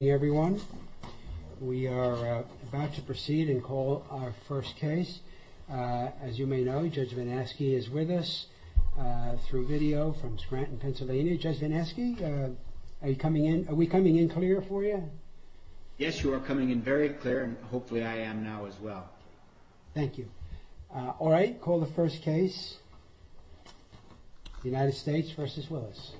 Hey everyone, we are about to proceed and call our first case. As you may know, Judge Vineski is with us through video from Scranton, Pennsylvania. Judge Vineski, are you coming in? Are we coming in clear for you? Yes, you are coming in very clear and hopefully I am now as well. Thank you. All right, call the first case. United States v. Willis.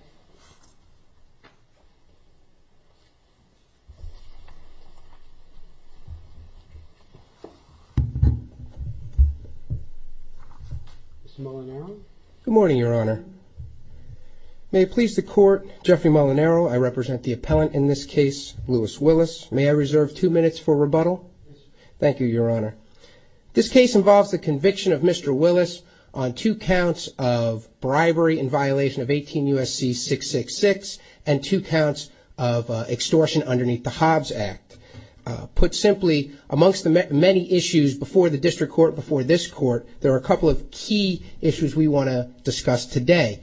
Good morning, Your Honor. May it please the Court, Jeffrey Molinaro, I represent the appellant in this case, Louis Willis. May I reserve two minutes for rebuttal? Thank you, Your Honor. This case involves the conviction of Mr. Willis on two counts of bribery in violation of 18 U.S.C. 666 and two counts of extortion underneath the Hobbs Act. Put simply, amongst the many issues before the District Court, before this Court, there are a couple of key issues we want to discuss today.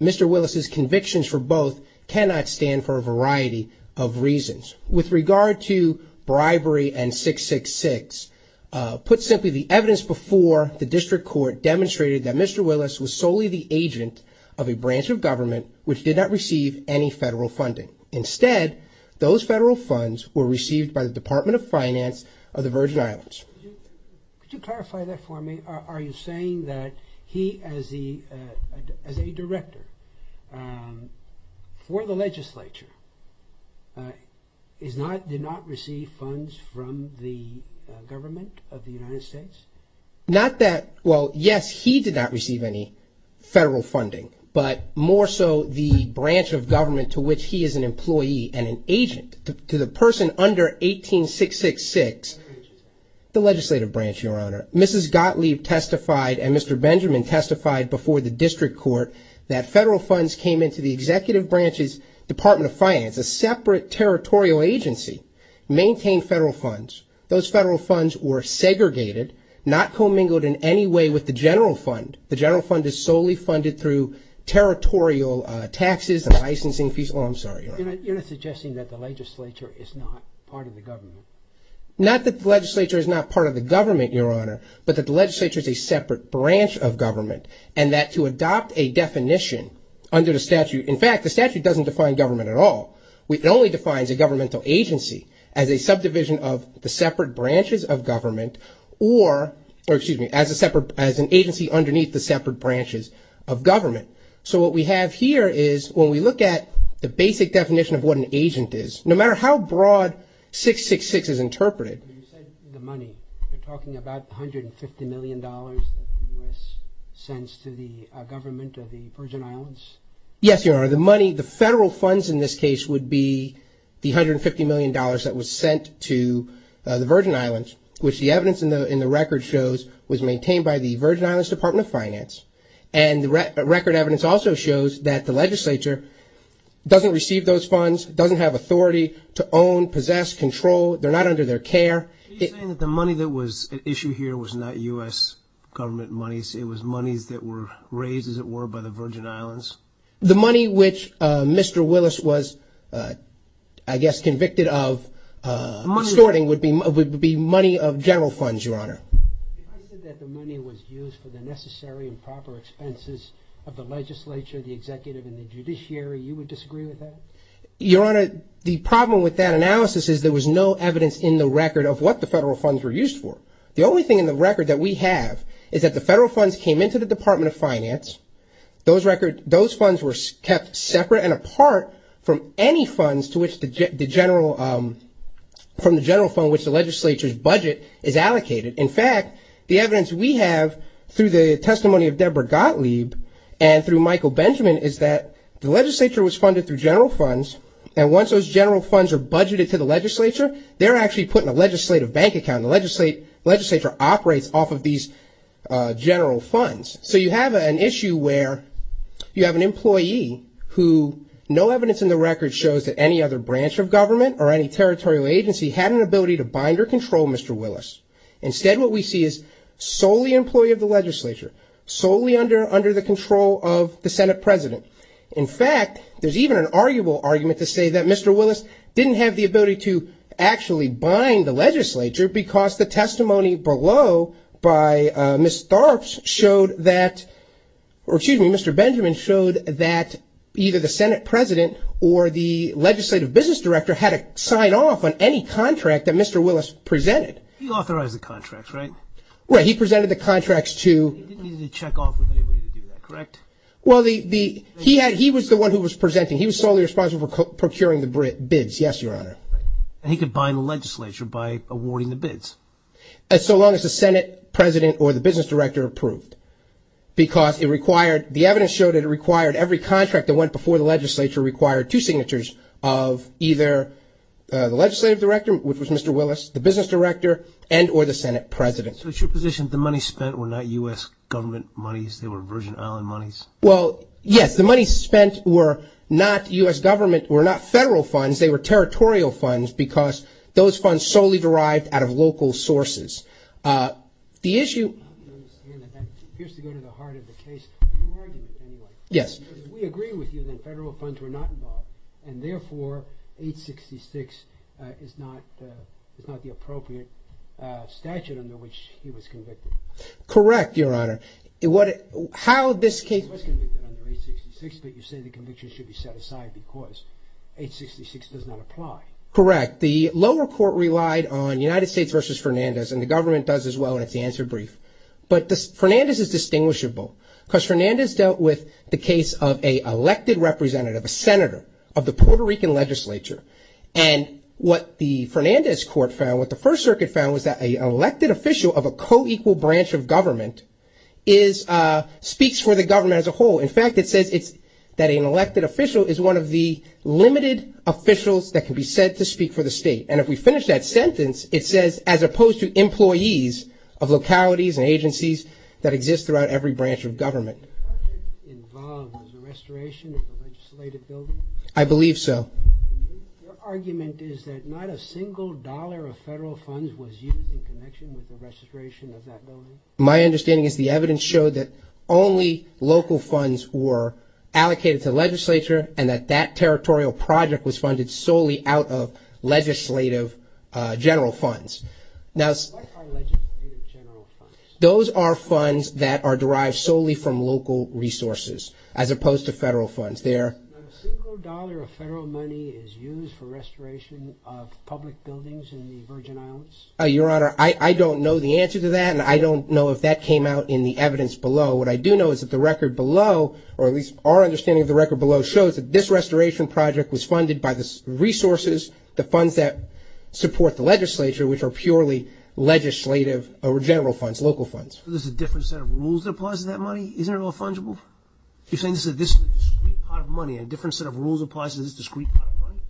Mr. Willis' convictions for both cannot stand for a variety of reasons. With regard to bribery and 666, put simply, the evidence before the District Court demonstrated that Mr. Willis was solely the agent of a branch of government which did not receive any federal funding. Instead, those federal funds were received by the Department of Finance of the Virgin Islands. Could you clarify that for me? Are you saying that he, as a director for the legislature, did not receive funds from the government of the United States? Not that, well, yes, he did not receive any federal funding, but more so the branch of government to which he is an employee and an agent to the person under 18 666, the legislative branch, Your Honor. Mrs. Gottlieb testified and Mr. Benjamin testified before the District Court that federal funds came into the executive branch's Department of Finance, a separate territorial agency, maintained federal funds. Those federal funds were segregated, not commingled in any way with the general fund. The general fund is solely funded through territorial taxes and licensing fees. Oh, I'm sorry, Your Honor. You're not suggesting that the legislature is not part of the government? Not that the legislature is not part of the government, Your Honor, but that the legislature is a separate branch of government and that to adopt a definition under the statute, in fact, the statute doesn't define government at all. It only defines a governmental agency as a subdivision of the separate branches of government or, excuse me, as an agency underneath the separate branches of government. So what we have here is when we look at the basic definition of what an agent is, no matter how broad 666 is interpreted. You said the money. You're talking about $150 million that the U.S. sends to the government of the Virgin Islands? Yes, Your Honor. The money, the federal funds in this case would be the $150 million that was sent to the Virgin Islands, which the evidence in the record shows was maintained by the Virgin Islands Department of Finance. And the record evidence also shows that the legislature doesn't receive those funds, doesn't have authority to own, possess, control. They're not under their care. Are you saying that the money that was at issue here was not U.S. government monies? It was monies that were raised, as it were, by the Virgin Islands? The money which Mr. Willis was, I guess, convicted of extorting would be money of general funds, Your Honor. If I said that the money was used for the necessary and proper expenses of the legislature, the executive, and the judiciary, you would disagree with that? Your Honor, the problem with that analysis is there was no evidence in the record of what the federal funds were used for. The only thing in the record that we have is that the federal funds came into the Department of Finance. Those funds were kept separate and apart from any funds from the general fund which the legislature's budget is allocated. In fact, the evidence we have through the testimony of Deborah Gottlieb and through Michael Benjamin is that the legislature was funded through general funds, and once those general funds are budgeted to the legislature, they're actually put in a legislative bank account. The legislature operates off of these general funds. So you have an issue where you have an employee who no evidence in the record shows that any other branch of government or any territorial agency had an ability to bind or control Mr. Willis. Instead, what we see is solely employee of the legislature, solely under the control of the Senate president. In fact, there's even an arguable argument to say that Mr. Willis didn't have the ability to actually bind the legislature because the testimony below by Ms. Tharps showed that, or excuse me, Mr. Benjamin showed that either the Senate president or the legislative business director had to sign off on any contract that Mr. Willis presented. He authorized the contract, right? Right. He was the one who was presenting. He was solely responsible for procuring the bids, yes, Your Honor. And he could bind the legislature by awarding the bids? So long as the Senate president or the business director approved because it required, the evidence showed that it required every contract that went before the legislature required two signatures of either the legislative director, which was Mr. Willis, the business director, and or the Senate president. So it's your position the money spent were not U.S. government monies, they were Virgin Island monies? Well, yes, the money spent were not U.S. government, were not federal funds, they were territorial funds because those funds solely derived out of local sources. The issue- I don't understand that. That appears to go to the heart of the case. Who are you anyway? Yes. Because if we agree with you, then federal funds were not involved and therefore 866 is not the appropriate statute under which he was convicted. Correct, Your Honor. How this case- He was convicted under 866, but you say the conviction should be set aside because 866 does not apply. Correct. The lower court relied on United States versus Fernandez and the government does as well and it's the answer brief. But Fernandez is distinguishable because Fernandez dealt with the case of a elected representative, a senator of the Puerto Rican legislature. And what the government is- speaks for the government as a whole. In fact, it says it's- that an elected official is one of the limited officials that can be said to speak for the state. And if we finish that sentence, it says as opposed to employees of localities and agencies that exist throughout every branch of government. Was the restoration of the legislative building involved? I believe so. Your argument is that not a single dollar of federal funds was used in connection with the restoration of that building? My understanding is the evidence showed that only local funds were allocated to the legislature and that that territorial project was funded solely out of legislative general funds. Now- What are legislative general funds? Those are funds that are derived solely from local resources as opposed to federal funds. They're- A single dollar of federal money is used for restoration of public buildings in the Virgin I don't know if that came out in the evidence below. What I do know is that the record below, or at least our understanding of the record below, shows that this restoration project was funded by the resources, the funds that support the legislature, which are purely legislative or general funds, local funds. So there's a different set of rules that applies to that money? Isn't it all fungible? You're saying this is a discrete pot of money, a different set of rules applies to this discrete pot of money?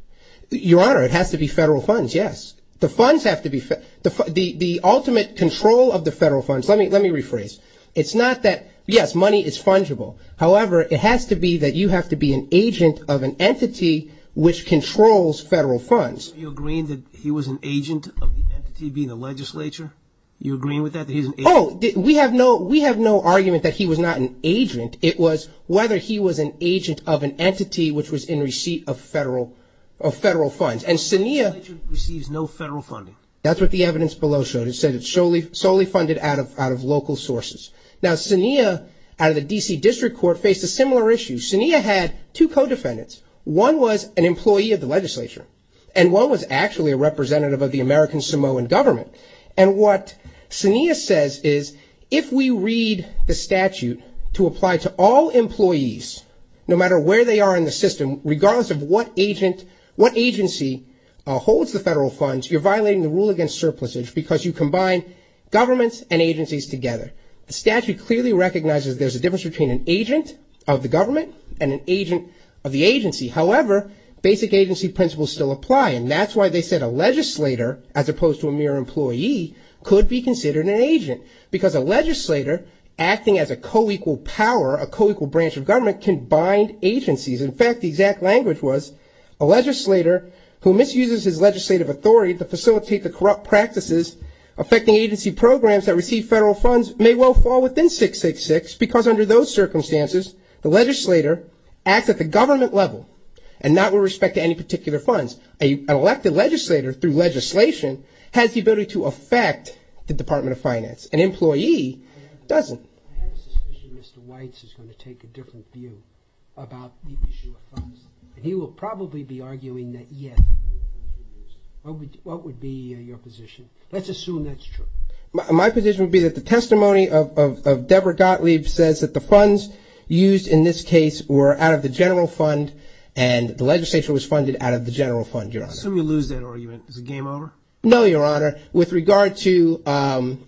Your Honor, it has to be federal funds, yes. The funds have to be- the ultimate control of the federal funds- let me rephrase. It's not that- yes, money is fungible. However, it has to be that you have to be an agent of an entity which controls federal funds. Are you agreeing that he was an agent of the entity being the legislature? Are you agreeing with that? Oh, we have no argument that he was not an agent. It was whether he was an agent of an entity which was in receipt of federal funds. The legislature receives no federal funding. That's what the evidence below showed. It solely funded out of local sources. Now, Sinea, out of the D.C. District Court, faced a similar issue. Sinea had two co-defendants. One was an employee of the legislature and one was actually a representative of the American Samoan government. And what Sinea says is, if we read the statute to apply to all employees, no matter where they are in the system, regardless of what agency holds the federal funds, you're violating the rule because you combine governments and agencies together. The statute clearly recognizes there's a difference between an agent of the government and an agent of the agency. However, basic agency principles still apply. And that's why they said a legislator, as opposed to a mere employee, could be considered an agent. Because a legislator, acting as a co-equal power, a co-equal branch of government, can bind agencies. In fact, the exact language was, a legislator who misuses his legislative authority to facilitate the corrupt practices affecting agency programs that receive federal funds may well fall within 666 because under those circumstances, the legislator acts at the government level and not with respect to any particular funds. An elected legislator, through legislation, has the ability to affect the Department of Finance. An employee doesn't. I have a suspicion Mr. Weitz is going to take a different view about the issue of funds. And he will probably be arguing that, yes, what would be your position? Let's assume that's true. My position would be that the testimony of Deborah Gottlieb says that the funds used in this case were out of the general fund and the legislature was funded out of the general fund, Your Honor. So we lose that argument. Is the game over? No, Your Honor. With regard to the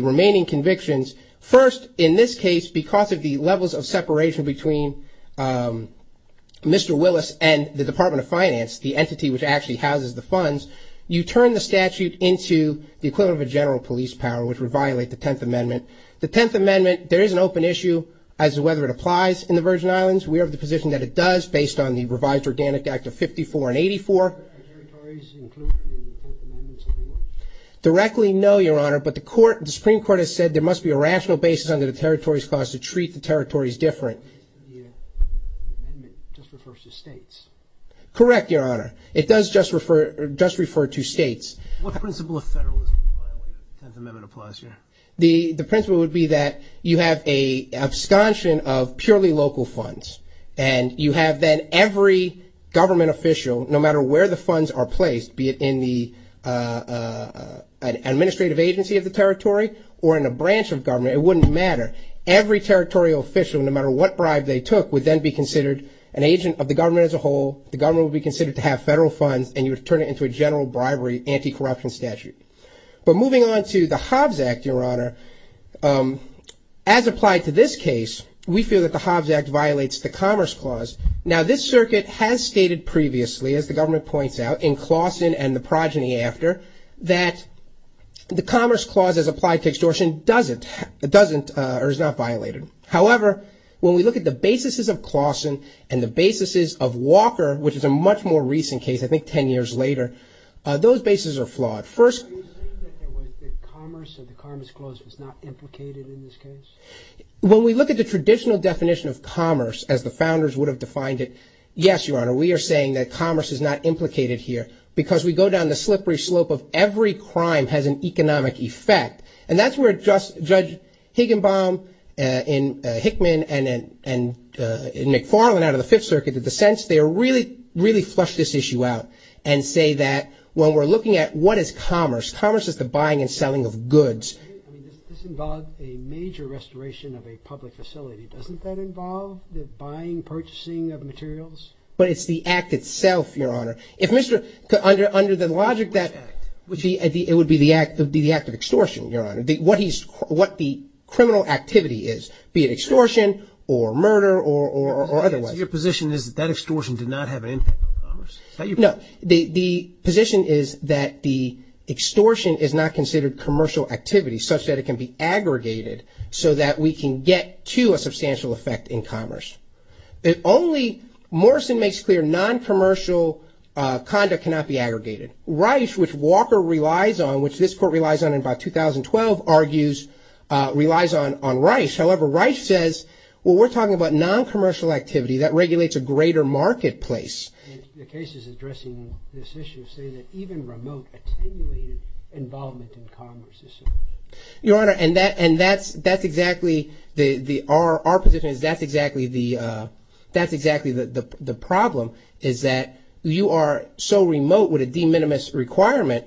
remaining convictions, first, in this case, because of the levels of separation between Mr. Willis and the Department of Finance, the entity which actually houses the funds, you turn the statute into the equivalent of a general police power, which would violate the Tenth Amendment. The Tenth Amendment, there is an open issue as to whether it applies in the Virgin Islands. We have the position that it does based on the revised Organic Act of 54 and 84. Are territories included in the Fourth Amendment? Directly, no, Your Honor. But the Supreme Court has said there must be a rational basis under the territories clause to treat the territories different. The Tenth Amendment just refers to states. Correct, Your Honor. It does just refer to states. What principle of federalism violate the Tenth Amendment applies here? The principle would be that you have an abstention of purely local funds. And you have then every government official, no matter where the funds are placed, be it in the administrative agency of the territory or in a branch of government, it wouldn't matter. Every territorial official, no matter what bribe they took, would then be considered an agent of the government as a whole. The government would be considered to have federal funds, and you would turn it into a general bribery anti-corruption statute. But moving on to the Hobbs Act, Your Honor, as applied to this case, we feel that the Hobbs Act violates the after that the Commerce Clause as applied to extortion doesn't or is not violated. However, when we look at the basis of Claussen and the basis of Walker, which is a much more recent case, I think 10 years later, those basis are flawed. First... Are you saying that Commerce or the Commerce Clause was not implicated in this case? When we look at the traditional definition of commerce as the founders would have defined it, yes, Your Honor, we are saying that commerce is not implicated here because we go down the slippery slope of every crime has an economic effect. And that's where Judge Higginbom in Hickman and in McFarland out of the Fifth Circuit, the dissents, they really flush this issue out and say that when we're looking at what is commerce, commerce is the buying and selling of goods. I mean, this involves a major restoration of a public facility. Doesn't that involve the buying, purchasing of materials? But it's the act itself, if Mr... Under the logic that... Which act? It would be the act of extortion, Your Honor. What the criminal activity is, be it extortion or murder or otherwise. Your position is that extortion did not have an impact on commerce? No. The position is that the extortion is not considered commercial activity such that it can be aggregated so that we can get to a substantial effect in commerce. It only... Morrison makes clear non-commercial conduct cannot be aggregated. Rice, which Walker relies on, which this court relies on in about 2012, argues, relies on Rice. However, Rice says, well, we're talking about non-commercial activity that regulates a greater marketplace. The cases addressing this issue say that even remote attenuated involvement in is that's exactly the problem, is that you are so remote with a de minimis requirement,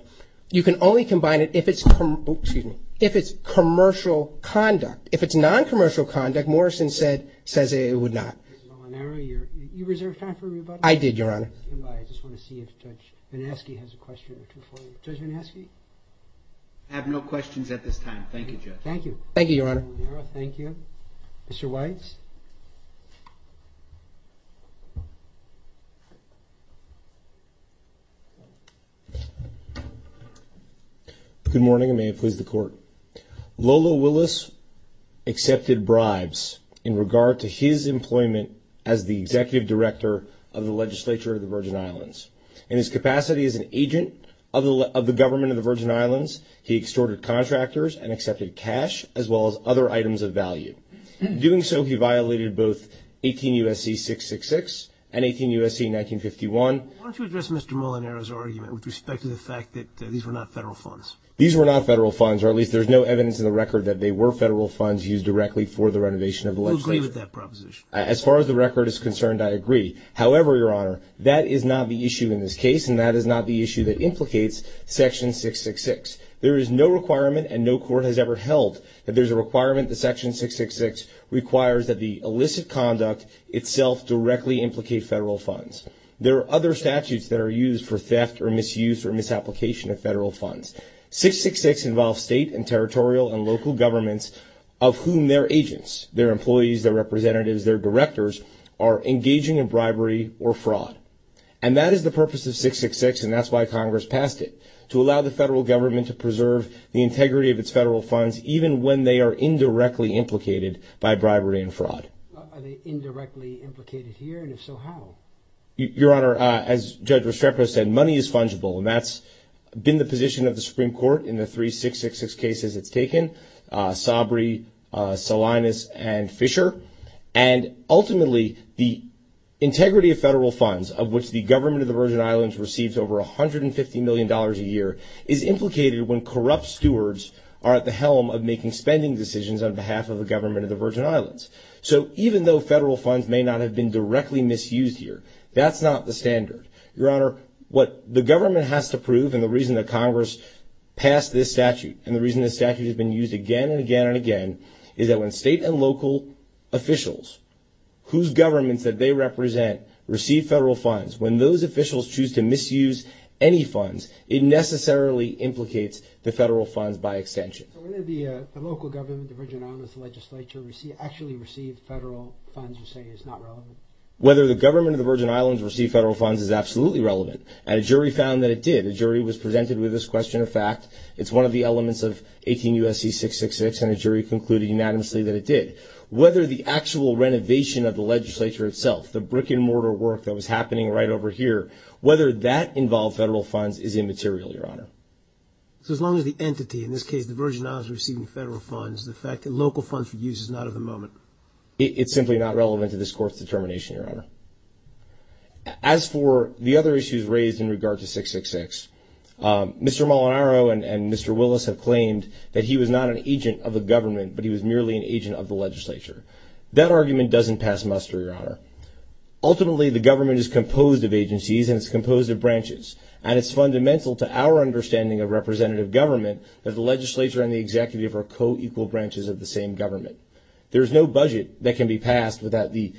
you can only combine it if it's commercial conduct. If it's non-commercial conduct, Morrison says it would not. You reserved time for me? I did, Your Honor. I just want to see if Judge Vanaskie has a question or two for you. Judge Vanaskie? I have no questions at this time. Thank you, Judge. Thank you. Thank you, Your Honor. Thank you. Mr. Weitz? Good morning, and may it please the Court. Lola Willis accepted bribes in regard to his employment as the Executive Director of the Legislature of the Virgin Islands. In his capacity as an agent of the government of the Virgin Islands, he extorted contractors and accepted cash as well as other items of value. Doing so, he violated both 18 U.S.C. 666 and 18 U.S.C. 1951. Why don't you address Mr. Molinaro's argument with respect to the fact that these were not federal funds? These were not federal funds, or at least there's no evidence in the record that they were federal funds used directly for the renovation of the legislature. I agree with that proposition. As far as the record is concerned, I agree. However, Your Honor, that is not the issue in this case, and that is not the issue that implicates Section 666. There is no requirement, and no court has ever held that there's a requirement that Section 666 requires that the illicit conduct itself directly implicate federal funds. There are other statutes that are used for theft or misuse or misapplication of federal funds. 666 involves state and territorial and local governments of whom their agents, their employees, their representatives, their directors are engaging in bribery or fraud. And that is the purpose of 666, and that's why Congress passed it, to allow the federal government to preserve the integrity of its federal funds, even when they are indirectly implicated by bribery and fraud. Are they indirectly implicated here, and if so, how? Your Honor, as Judge Restrepo said, money is fungible, and that's been the position of the Supreme Court in the three 666 cases it's taken, Sabri, Salinas, and Fisher. And ultimately, the integrity of federal funds, of which the government of the Virgin Islands receives over $150 million a year, is implicated when corrupt stewards are at the helm of making spending decisions on behalf of the government of the Virgin Islands. So even though federal funds may not have been directly misused here, that's not the standard. Your Honor, what the government has to prove, and the reason that Congress passed this statute, and the reason this statute has been used again and again and again, is that when state and local officials whose governments that represent receive federal funds, when those officials choose to misuse any funds, it necessarily implicates the federal funds by extension. So whether the local government, the Virgin Islands Legislature, actually received federal funds, you're saying is not relevant? Whether the government of the Virgin Islands received federal funds is absolutely relevant, and a jury found that it did. A jury was presented with this question. In fact, it's one of the elements of 18 U.S.C. 666, and a jury concluded unanimously that it did. Whether the actual renovation of the legislature itself, the brick and mortar work that was happening right over here, whether that involved federal funds is immaterial, Your Honor. So as long as the entity, in this case the Virgin Islands, is receiving federal funds, the fact that local funds were used is not at the moment? It's simply not relevant to this Court's determination, Your Honor. As for the other issues raised in regard to 666, Mr. Molinaro and Mr. Willis have claimed that he was not an agent of the government, but he was merely an agent of the legislature. That argument doesn't pass muster, Your Honor. Ultimately, the government is composed of agencies and it's composed of branches, and it's fundamental to our understanding of representative government that the legislature and the executive are co-equal branches of the same government. There's no budget that can be passed without the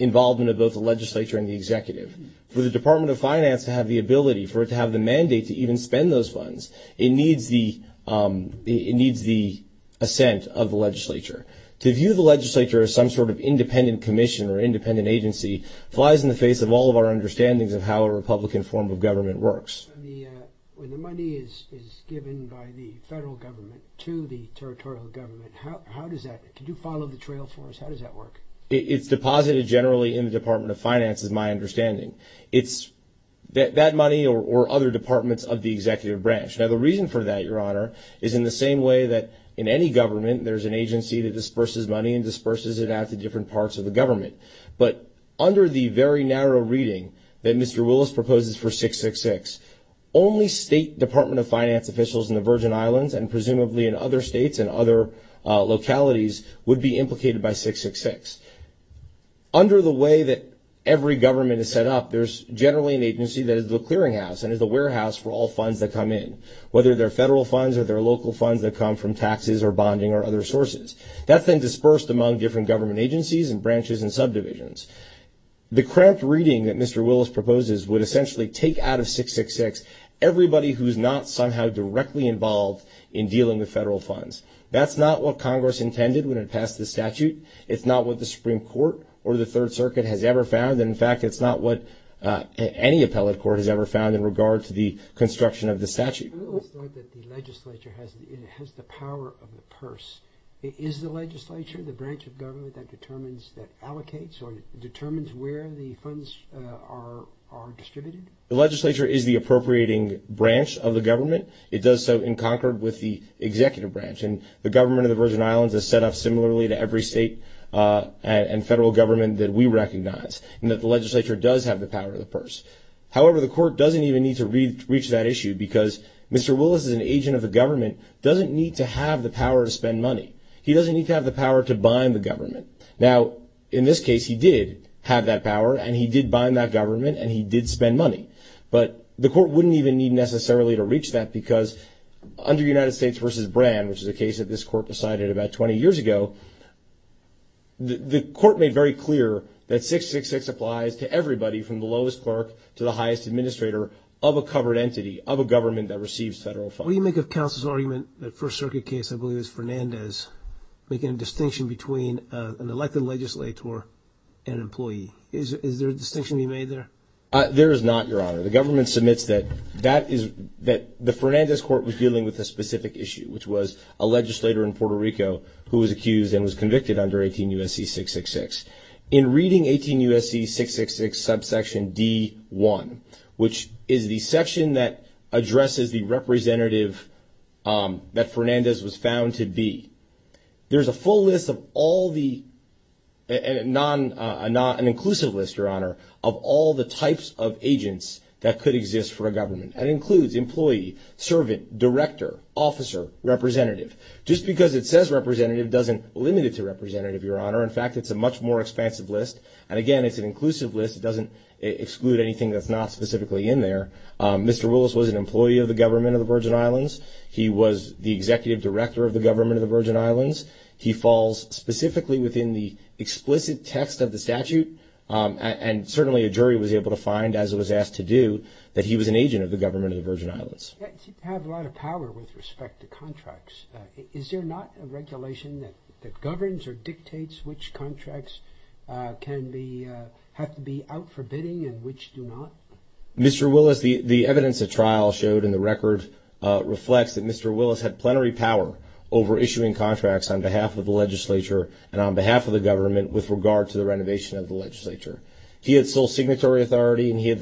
involvement of both the legislature and the executive. For the Department of Finance to have the ability, for it to have mandate to even spend those funds, it needs the assent of the legislature. To view the legislature as some sort of independent commission or independent agency flies in the face of all of our understandings of how a Republican form of government works. When the money is given by the federal government to the territorial government, can you follow the trail for us? How does that work? It's deposited generally in the Department of Finance, is my understanding. It's that money or other departments of the executive branch. Now, the reason for that, Your Honor, is in the same way that in any government, there's an agency that disperses money and disperses it out to different parts of the government. But under the very narrow reading that Mr. Willis proposes for 666, only state Department of Finance officials in the Virgin Islands and presumably in other states and other localities would be implicated by 666. Under the way that every government is set up, there's generally an agency that is the clearinghouse and is the warehouse for all funds that come in, whether they're federal funds or they're local funds that come from taxes or bonding or other sources. That's been dispersed among different government agencies and branches and subdivisions. The cramped reading that Mr. Willis proposes would essentially take out of 666 everybody who's not somehow directly involved in dealing with federal funds. That's not what Congress intended when it passed the statute. It's not what the Supreme Court or the Third Circuit has ever found. In fact, it's not what any appellate court has ever found in regard to the construction of the statute. I always thought that the legislature has the power of the purse. Is the legislature, the branch of government that determines, that allocates or determines where the funds are distributed? The legislature is the appropriating branch of the government. It does so in Concord with the executive branch. And the government of the Virgin Islands is set up similarly to every state and federal government that we recognize and that the legislature does have the power of the purse. However, the court doesn't even need to reach that issue because Mr. Willis is an agent of the government, doesn't need to have the power to spend money. He doesn't need to have the power to bind the government. Now, in this case, he did have that power and he did bind that government and he did spend money. But the court wouldn't even need necessarily to reach that because under United States versus Brand, which is a case that this court decided about 20 years ago, the court made very clear that 666 applies to everybody from the lowest clerk to the highest administrator of a covered entity of a government that receives federal funds. What do you make of counsel's argument that First Circuit case, I believe is Fernandez making a distinction between an elected legislator and employee? Is there a distinction being made there? There is not, Your Honor. The government submits that that is that the Fernandez court was dealing with a specific issue, which was a legislator in Puerto Rico who was accused and convicted under 18 U.S.C. 666. In reading 18 U.S.C. 666 subsection D1, which is the section that addresses the representative that Fernandez was found to be, there's a full list of all the, an inclusive list, Your Honor, of all the types of agents that could exist for a government. That includes employee, servant, director, officer, representative. Just because it says representative doesn't limit it to representative, Your Honor. In fact, it's a much more expansive list. And again, it's an inclusive list. It doesn't exclude anything that's not specifically in there. Mr. Willis was an employee of the government of the Virgin Islands. He was the executive director of the government of the Virgin Islands. He falls specifically within the explicit text of the statute. And certainly a jury was able to find, as it was asked to do, that he was an agent of the government of the Virgin Islands. You have a lot of power with respect to contracts. Is there not a regulation that governs or dictates which contracts can be, have to be out for bidding and which do not? Mr. Willis, the evidence of trial showed in the record reflects that Mr. Willis had plenary power over issuing contracts on behalf of the legislature and on behalf of the government with regard to the renovation of the legislature. He had sole signatory authority and he had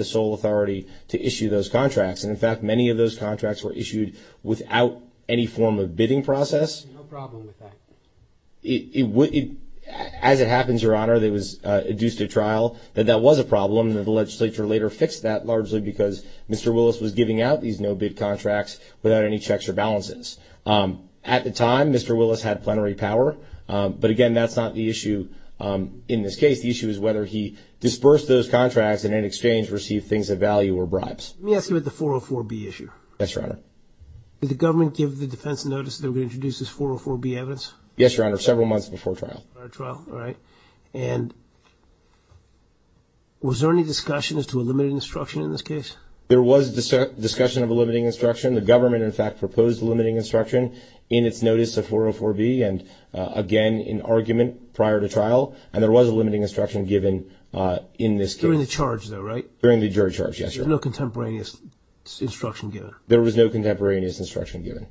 contracts. And in fact, many of those contracts were issued without any form of bidding process. No problem with that. As it happens, Your Honor, it was adduced at trial that that was a problem and that the legislature later fixed that largely because Mr. Willis was giving out these no-bid contracts without any checks or balances. At the time, Mr. Willis had plenary power. But again, that's not the issue in this case. The issue is whether he dispersed those contracts and in exchange received things of value or bribes. Let me ask you about the 404B issue. Yes, Your Honor. Did the government give the defense notice that they were going to introduce this 404B evidence? Yes, Your Honor, several months before trial. Prior to trial, all right. And was there any discussion as to a limiting instruction in this case? There was discussion of a limiting instruction. The government, in fact, proposed a limiting instruction in its notice of 404B and again, in argument prior to trial. And there was a limiting instruction given in this case. During the charge, though, right? During the jury charge, yes, Your Honor. There was no contemporaneous instruction given? There was no contemporaneous instruction given.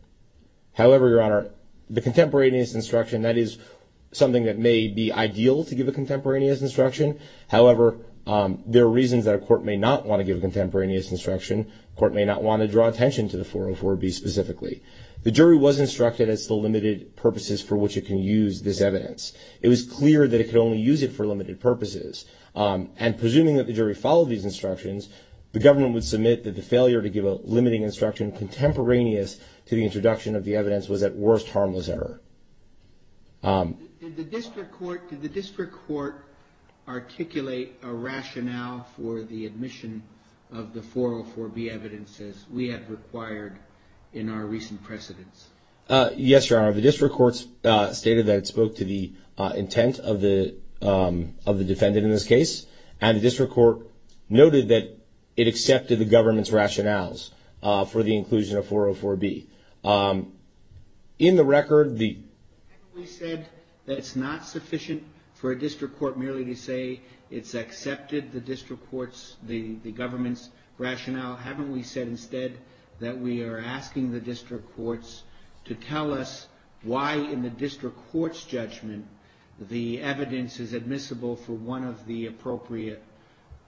However, Your Honor, the contemporaneous instruction, that is something that may be ideal to give a contemporaneous instruction. However, there are reasons that a court may not want to give a contemporaneous instruction. A court may not want to draw attention to the 404B specifically. The jury was instructed it's the limited purposes for which it can use this evidence. It was clear that it could only use it for limited purposes. And presuming that the jury followed these instructions, the government would submit that the failure to give a limiting instruction contemporaneous to the introduction of the evidence was at worst harmless error. Did the district court articulate a rationale for the admission of the 404B evidences we had required in our recent precedents? Yes, Your Honor. The district courts stated that it spoke to the intent of the defendant in this case. And the district court noted that it accepted the government's rationales for the inclusion of 404B. In the record, the... Haven't we said that it's not sufficient for a district court merely to say it's accepted the district court's, the government's rationale? Haven't we said instead that we are asking the district courts to tell us why in the district court's judgment the evidence is appropriate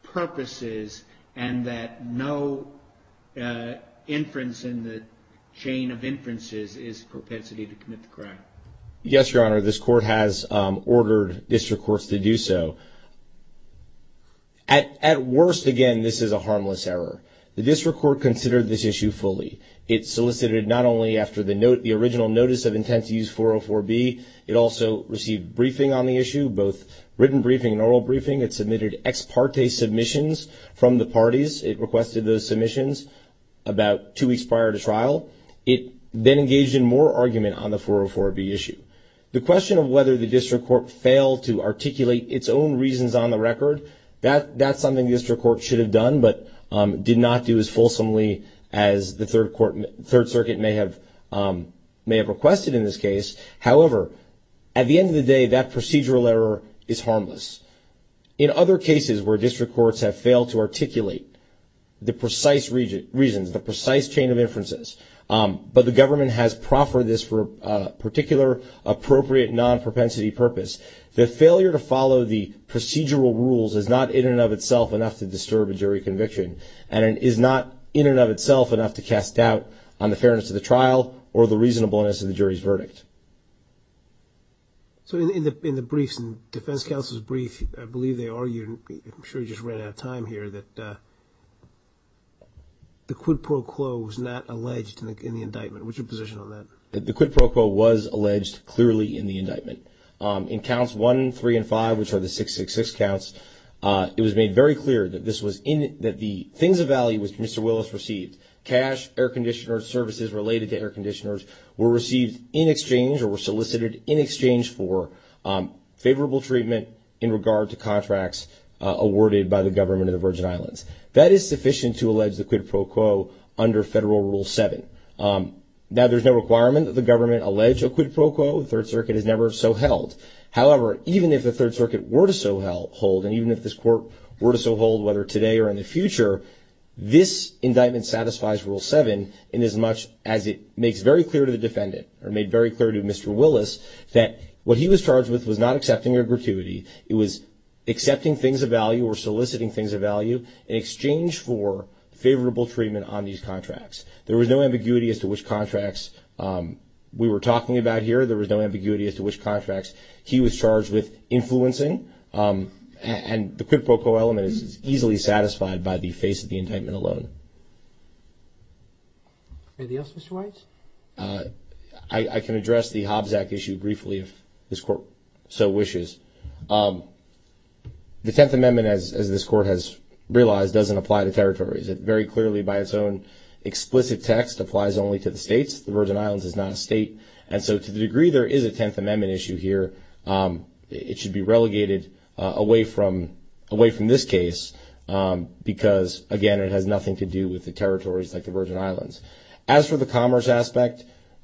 purposes and that no inference in the chain of inferences is propensity to commit the crime? Yes, Your Honor. This court has ordered district courts to do so. At worst, again, this is a harmless error. The district court considered this issue fully. It solicited not only after the original notice of intent to use 404B, it also received briefing on the issue, both written briefing and oral briefing. It submitted ex parte submissions from the parties. It requested those submissions about two weeks prior to trial. It then engaged in more argument on the 404B issue. The question of whether the district court failed to articulate its own reasons on the record, that's something the district court should have done but did not do as fulsomely as the Third Circuit may have requested in this case. However, at the end of the day, that procedural error is harmless. In other cases where district courts have failed to articulate the precise reasons, the precise chain of inferences, but the government has proffered this for a particular appropriate non-propensity purpose, the failure to follow the procedural rules is not in and of itself enough to disturb a jury conviction and is not in and of itself enough to cast doubt on the fairness of the trial or the reasonableness of the jury's verdict. So in the briefs, in defense counsel's brief, I believe they argued, I'm sure you just ran out of time here, that the quid pro quo was not alleged in the indictment. What's your position on that? The quid pro quo was alleged clearly in the indictment. In counts one, three, and five, which are the 666 counts, it was made very clear that this was in, that the things of value which Mr. Willis received, cash, air conditioner, services related to air conditioners were received in exchange or were solicited in exchange for favorable treatment in regard to contracts awarded by the government of the Virgin Islands. That is sufficient to allege the quid pro quo under Federal Rule 7. Now, there's no requirement that the government allege a quid pro quo. The Third Circuit has never so held. However, even if the Third Circuit were to so hold, and even if this court were to so hold, whether today or in the future, this indictment satisfies Rule 7 inasmuch as it makes very clear to the defendant or made very clear to Mr. Willis that what he was charged with was not accepting of gratuity. It was accepting things of value or soliciting things of value in exchange for favorable treatment on these contracts. There was no ambiguity as to which contracts we were talking about here. There was no ambiguity as to which contracts he was charged with influencing. And the quid pro quo element is easily satisfied by the face of the indictment alone. Anything else, Mr. Weitz? I can address the Hobbs Act issue briefly, if this court so wishes. The Tenth Amendment, as this court has realized, doesn't apply to territories. It very clearly by its own explicit text applies only to the states. The Virgin Islands is not a state. And so to the degree there is a Tenth Amendment issue here, it should be relegated away from this case because, again, it has nothing to do with the territories like the Virgin Islands. As for the commerce aspect,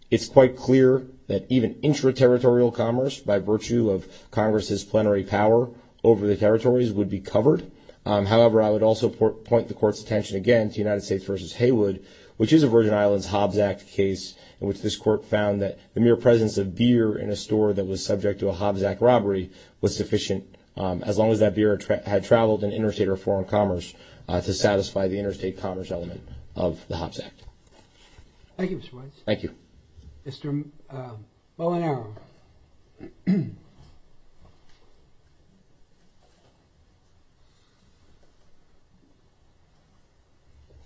it's quite clear that even intra-territorial commerce by virtue of Congress's plenary power over the territories would be covered. However, I would also point the court's attention again to United States v. Haywood, which is a Virgin Islands Hobbs Act case in which this court found that the mere presence of beer in a store that was subject to a Hobbs Act robbery was sufficient as long as that beer had traveled in interstate or foreign commerce to satisfy the interstate commerce element of the Hobbs Act. Thank you, Mr. Weitz. Thank you. Mr. Molinaro.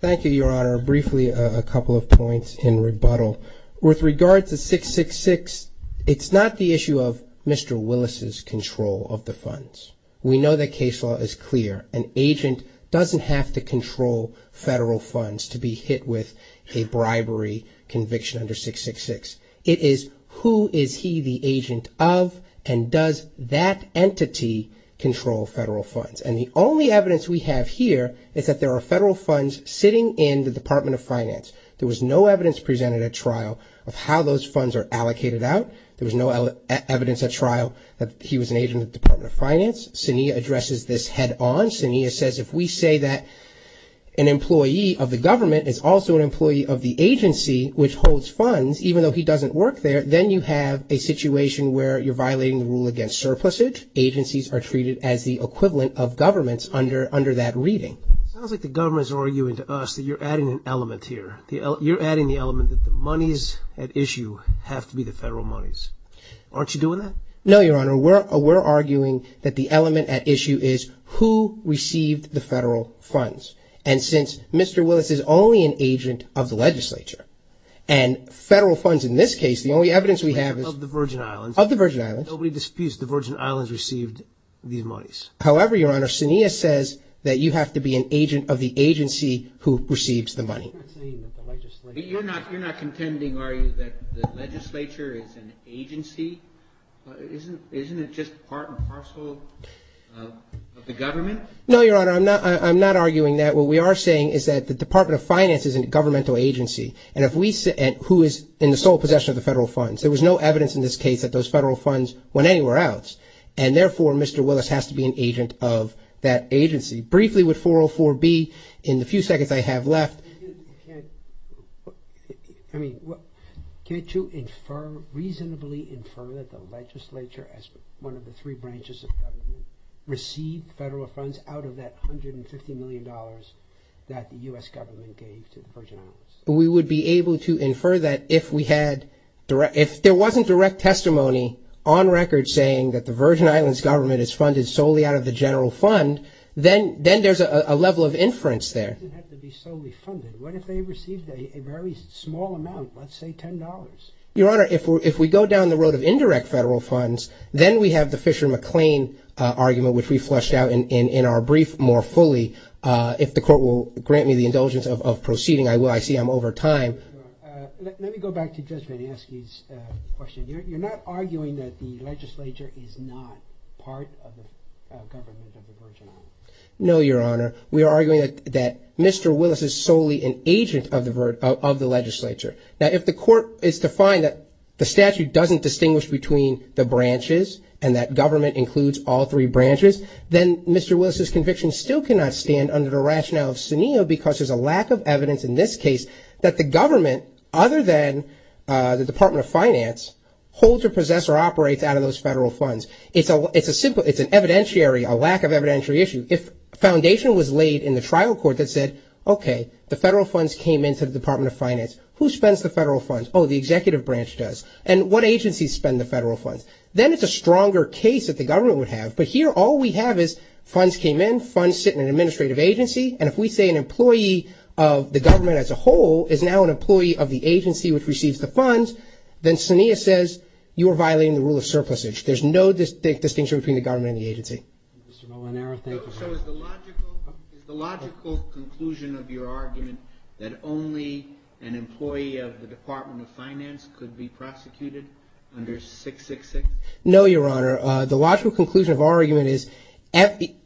Thank you, Your Honor. Briefly, a couple of points in rebuttal. With regard to 666, it's not the issue of Mr. Willis's control of the funds. We know that case law is clear. An agent doesn't have to control federal funds to be hit with a bribery conviction under 666. It is who is he the agent of and does that entity control federal funds? And the only evidence we have here is that there are federal funds sitting in the Department of Finance. There was no evidence presented at trial of how those funds are allocated out. There was no evidence at trial that he was an agent of the Department of Finance. Suniya addresses this head on. Suniya says if we say that an employee of the government is also an employee of the agency which holds funds, even though he doesn't work there, then you have a situation where you're violating the rule against surplusage. Agencies are treated as the equivalent of governments under that reading. Sounds like the government is arguing to us that you're adding an element here. You're adding the element that the monies at issue have to be the federal monies. Aren't you doing that? No, Your Honor. We're arguing that the element at issue is who received the federal funds. And since Mr. Willis is only an agent of the legislature and federal funds in this case, the only evidence we have is... Of the Virgin Islands. Of the Virgin Islands. Nobody disputes the Virgin Islands received these monies. However, Your Honor, Suniya says that you have to be an agency who receives the money. But you're not contending, are you, that the legislature is an agency? Isn't it just part and parcel of the government? No, Your Honor. I'm not arguing that. What we are saying is that the Department of Finance is a governmental agency. And if we say... Who is in the sole possession of the federal funds. There was no evidence in this case that those federal funds went anywhere else. And therefore, Mr. Willis has to be an agent of that agency. Briefly, with 404B, in the few seconds I have left... Can't you infer, reasonably infer, that the legislature, as one of the three branches of government, received federal funds out of that $150 million that the U.S. government gave to the Virgin Islands? We would be able to infer that if there wasn't direct testimony on record saying that the Virgin Islands government is funded solely out of the general fund, then there's a level of inference there. It doesn't have to be solely funded. What if they received a very small amount, let's say $10? Your Honor, if we go down the road of indirect federal funds, then we have the Fisher-McLean argument, which we fleshed out in our brief more fully. If the court will grant me the indulgence of proceeding, I see I'm over time. Let me go back to Judge VanAskey's question. You're not arguing that the legislature is not part of the government of the Virgin Islands? No, Your Honor. We are arguing that Mr. Willis is solely an agent of the legislature. Now, if the court is to find that the statute doesn't distinguish between the branches and that government includes all three branches, then Mr. Willis's conviction still cannot stand under the rationale of Sunio because there's a lack of evidence in this case that the government, other than the Department of Finance, holds or possess or operates out of those federal funds. It's a simple, it's an evidentiary, a lack of evidentiary issue. If foundation was laid in the trial court that said, okay, the federal funds came into the Department of Finance. Who spends the federal funds? Oh, the executive branch does. And what agencies spend the federal funds? Then it's a stronger case that the government would have, but here all we have is funds came in, funds sit in an administrative agency, and if we say an employee of the government as a whole is now an employee of the agency which receives the funds, then Sunio says you are violating the rule of surplusage. There's no distinct distinction between the government and the agency. So is the logical conclusion of your argument that only an employee of the Department of Finance could be prosecuted under 666? No, Your Honor. The logical conclusion of our argument is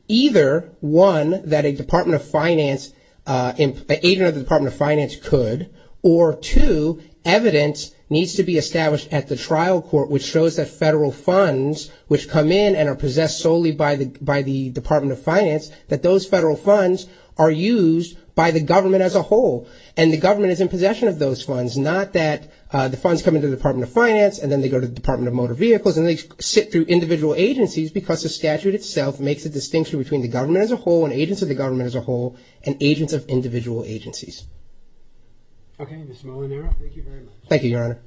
either, one, that a Department of Finance, an agent of the Department of Finance could, or two, evidence needs to be established at the trial court which shows that federal funds which come in and are possessed solely by the Department of Finance, that those federal funds are used by the government as a whole. And the government is in possession of those funds, not that the funds come into the Department of Finance and then they go to the Department of Motor Vehicles and they sit through individual agencies because the statute itself makes a distinction between the government as a whole and agents of the government as a whole and agents of individual agencies. Okay, Mr. Molinaro, thank you very much. Thank you, Your Honor.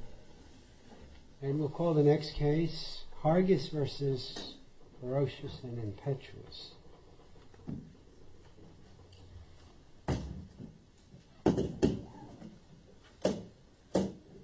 And we'll call the next case, Hargis v. Ferocious and Impetuous.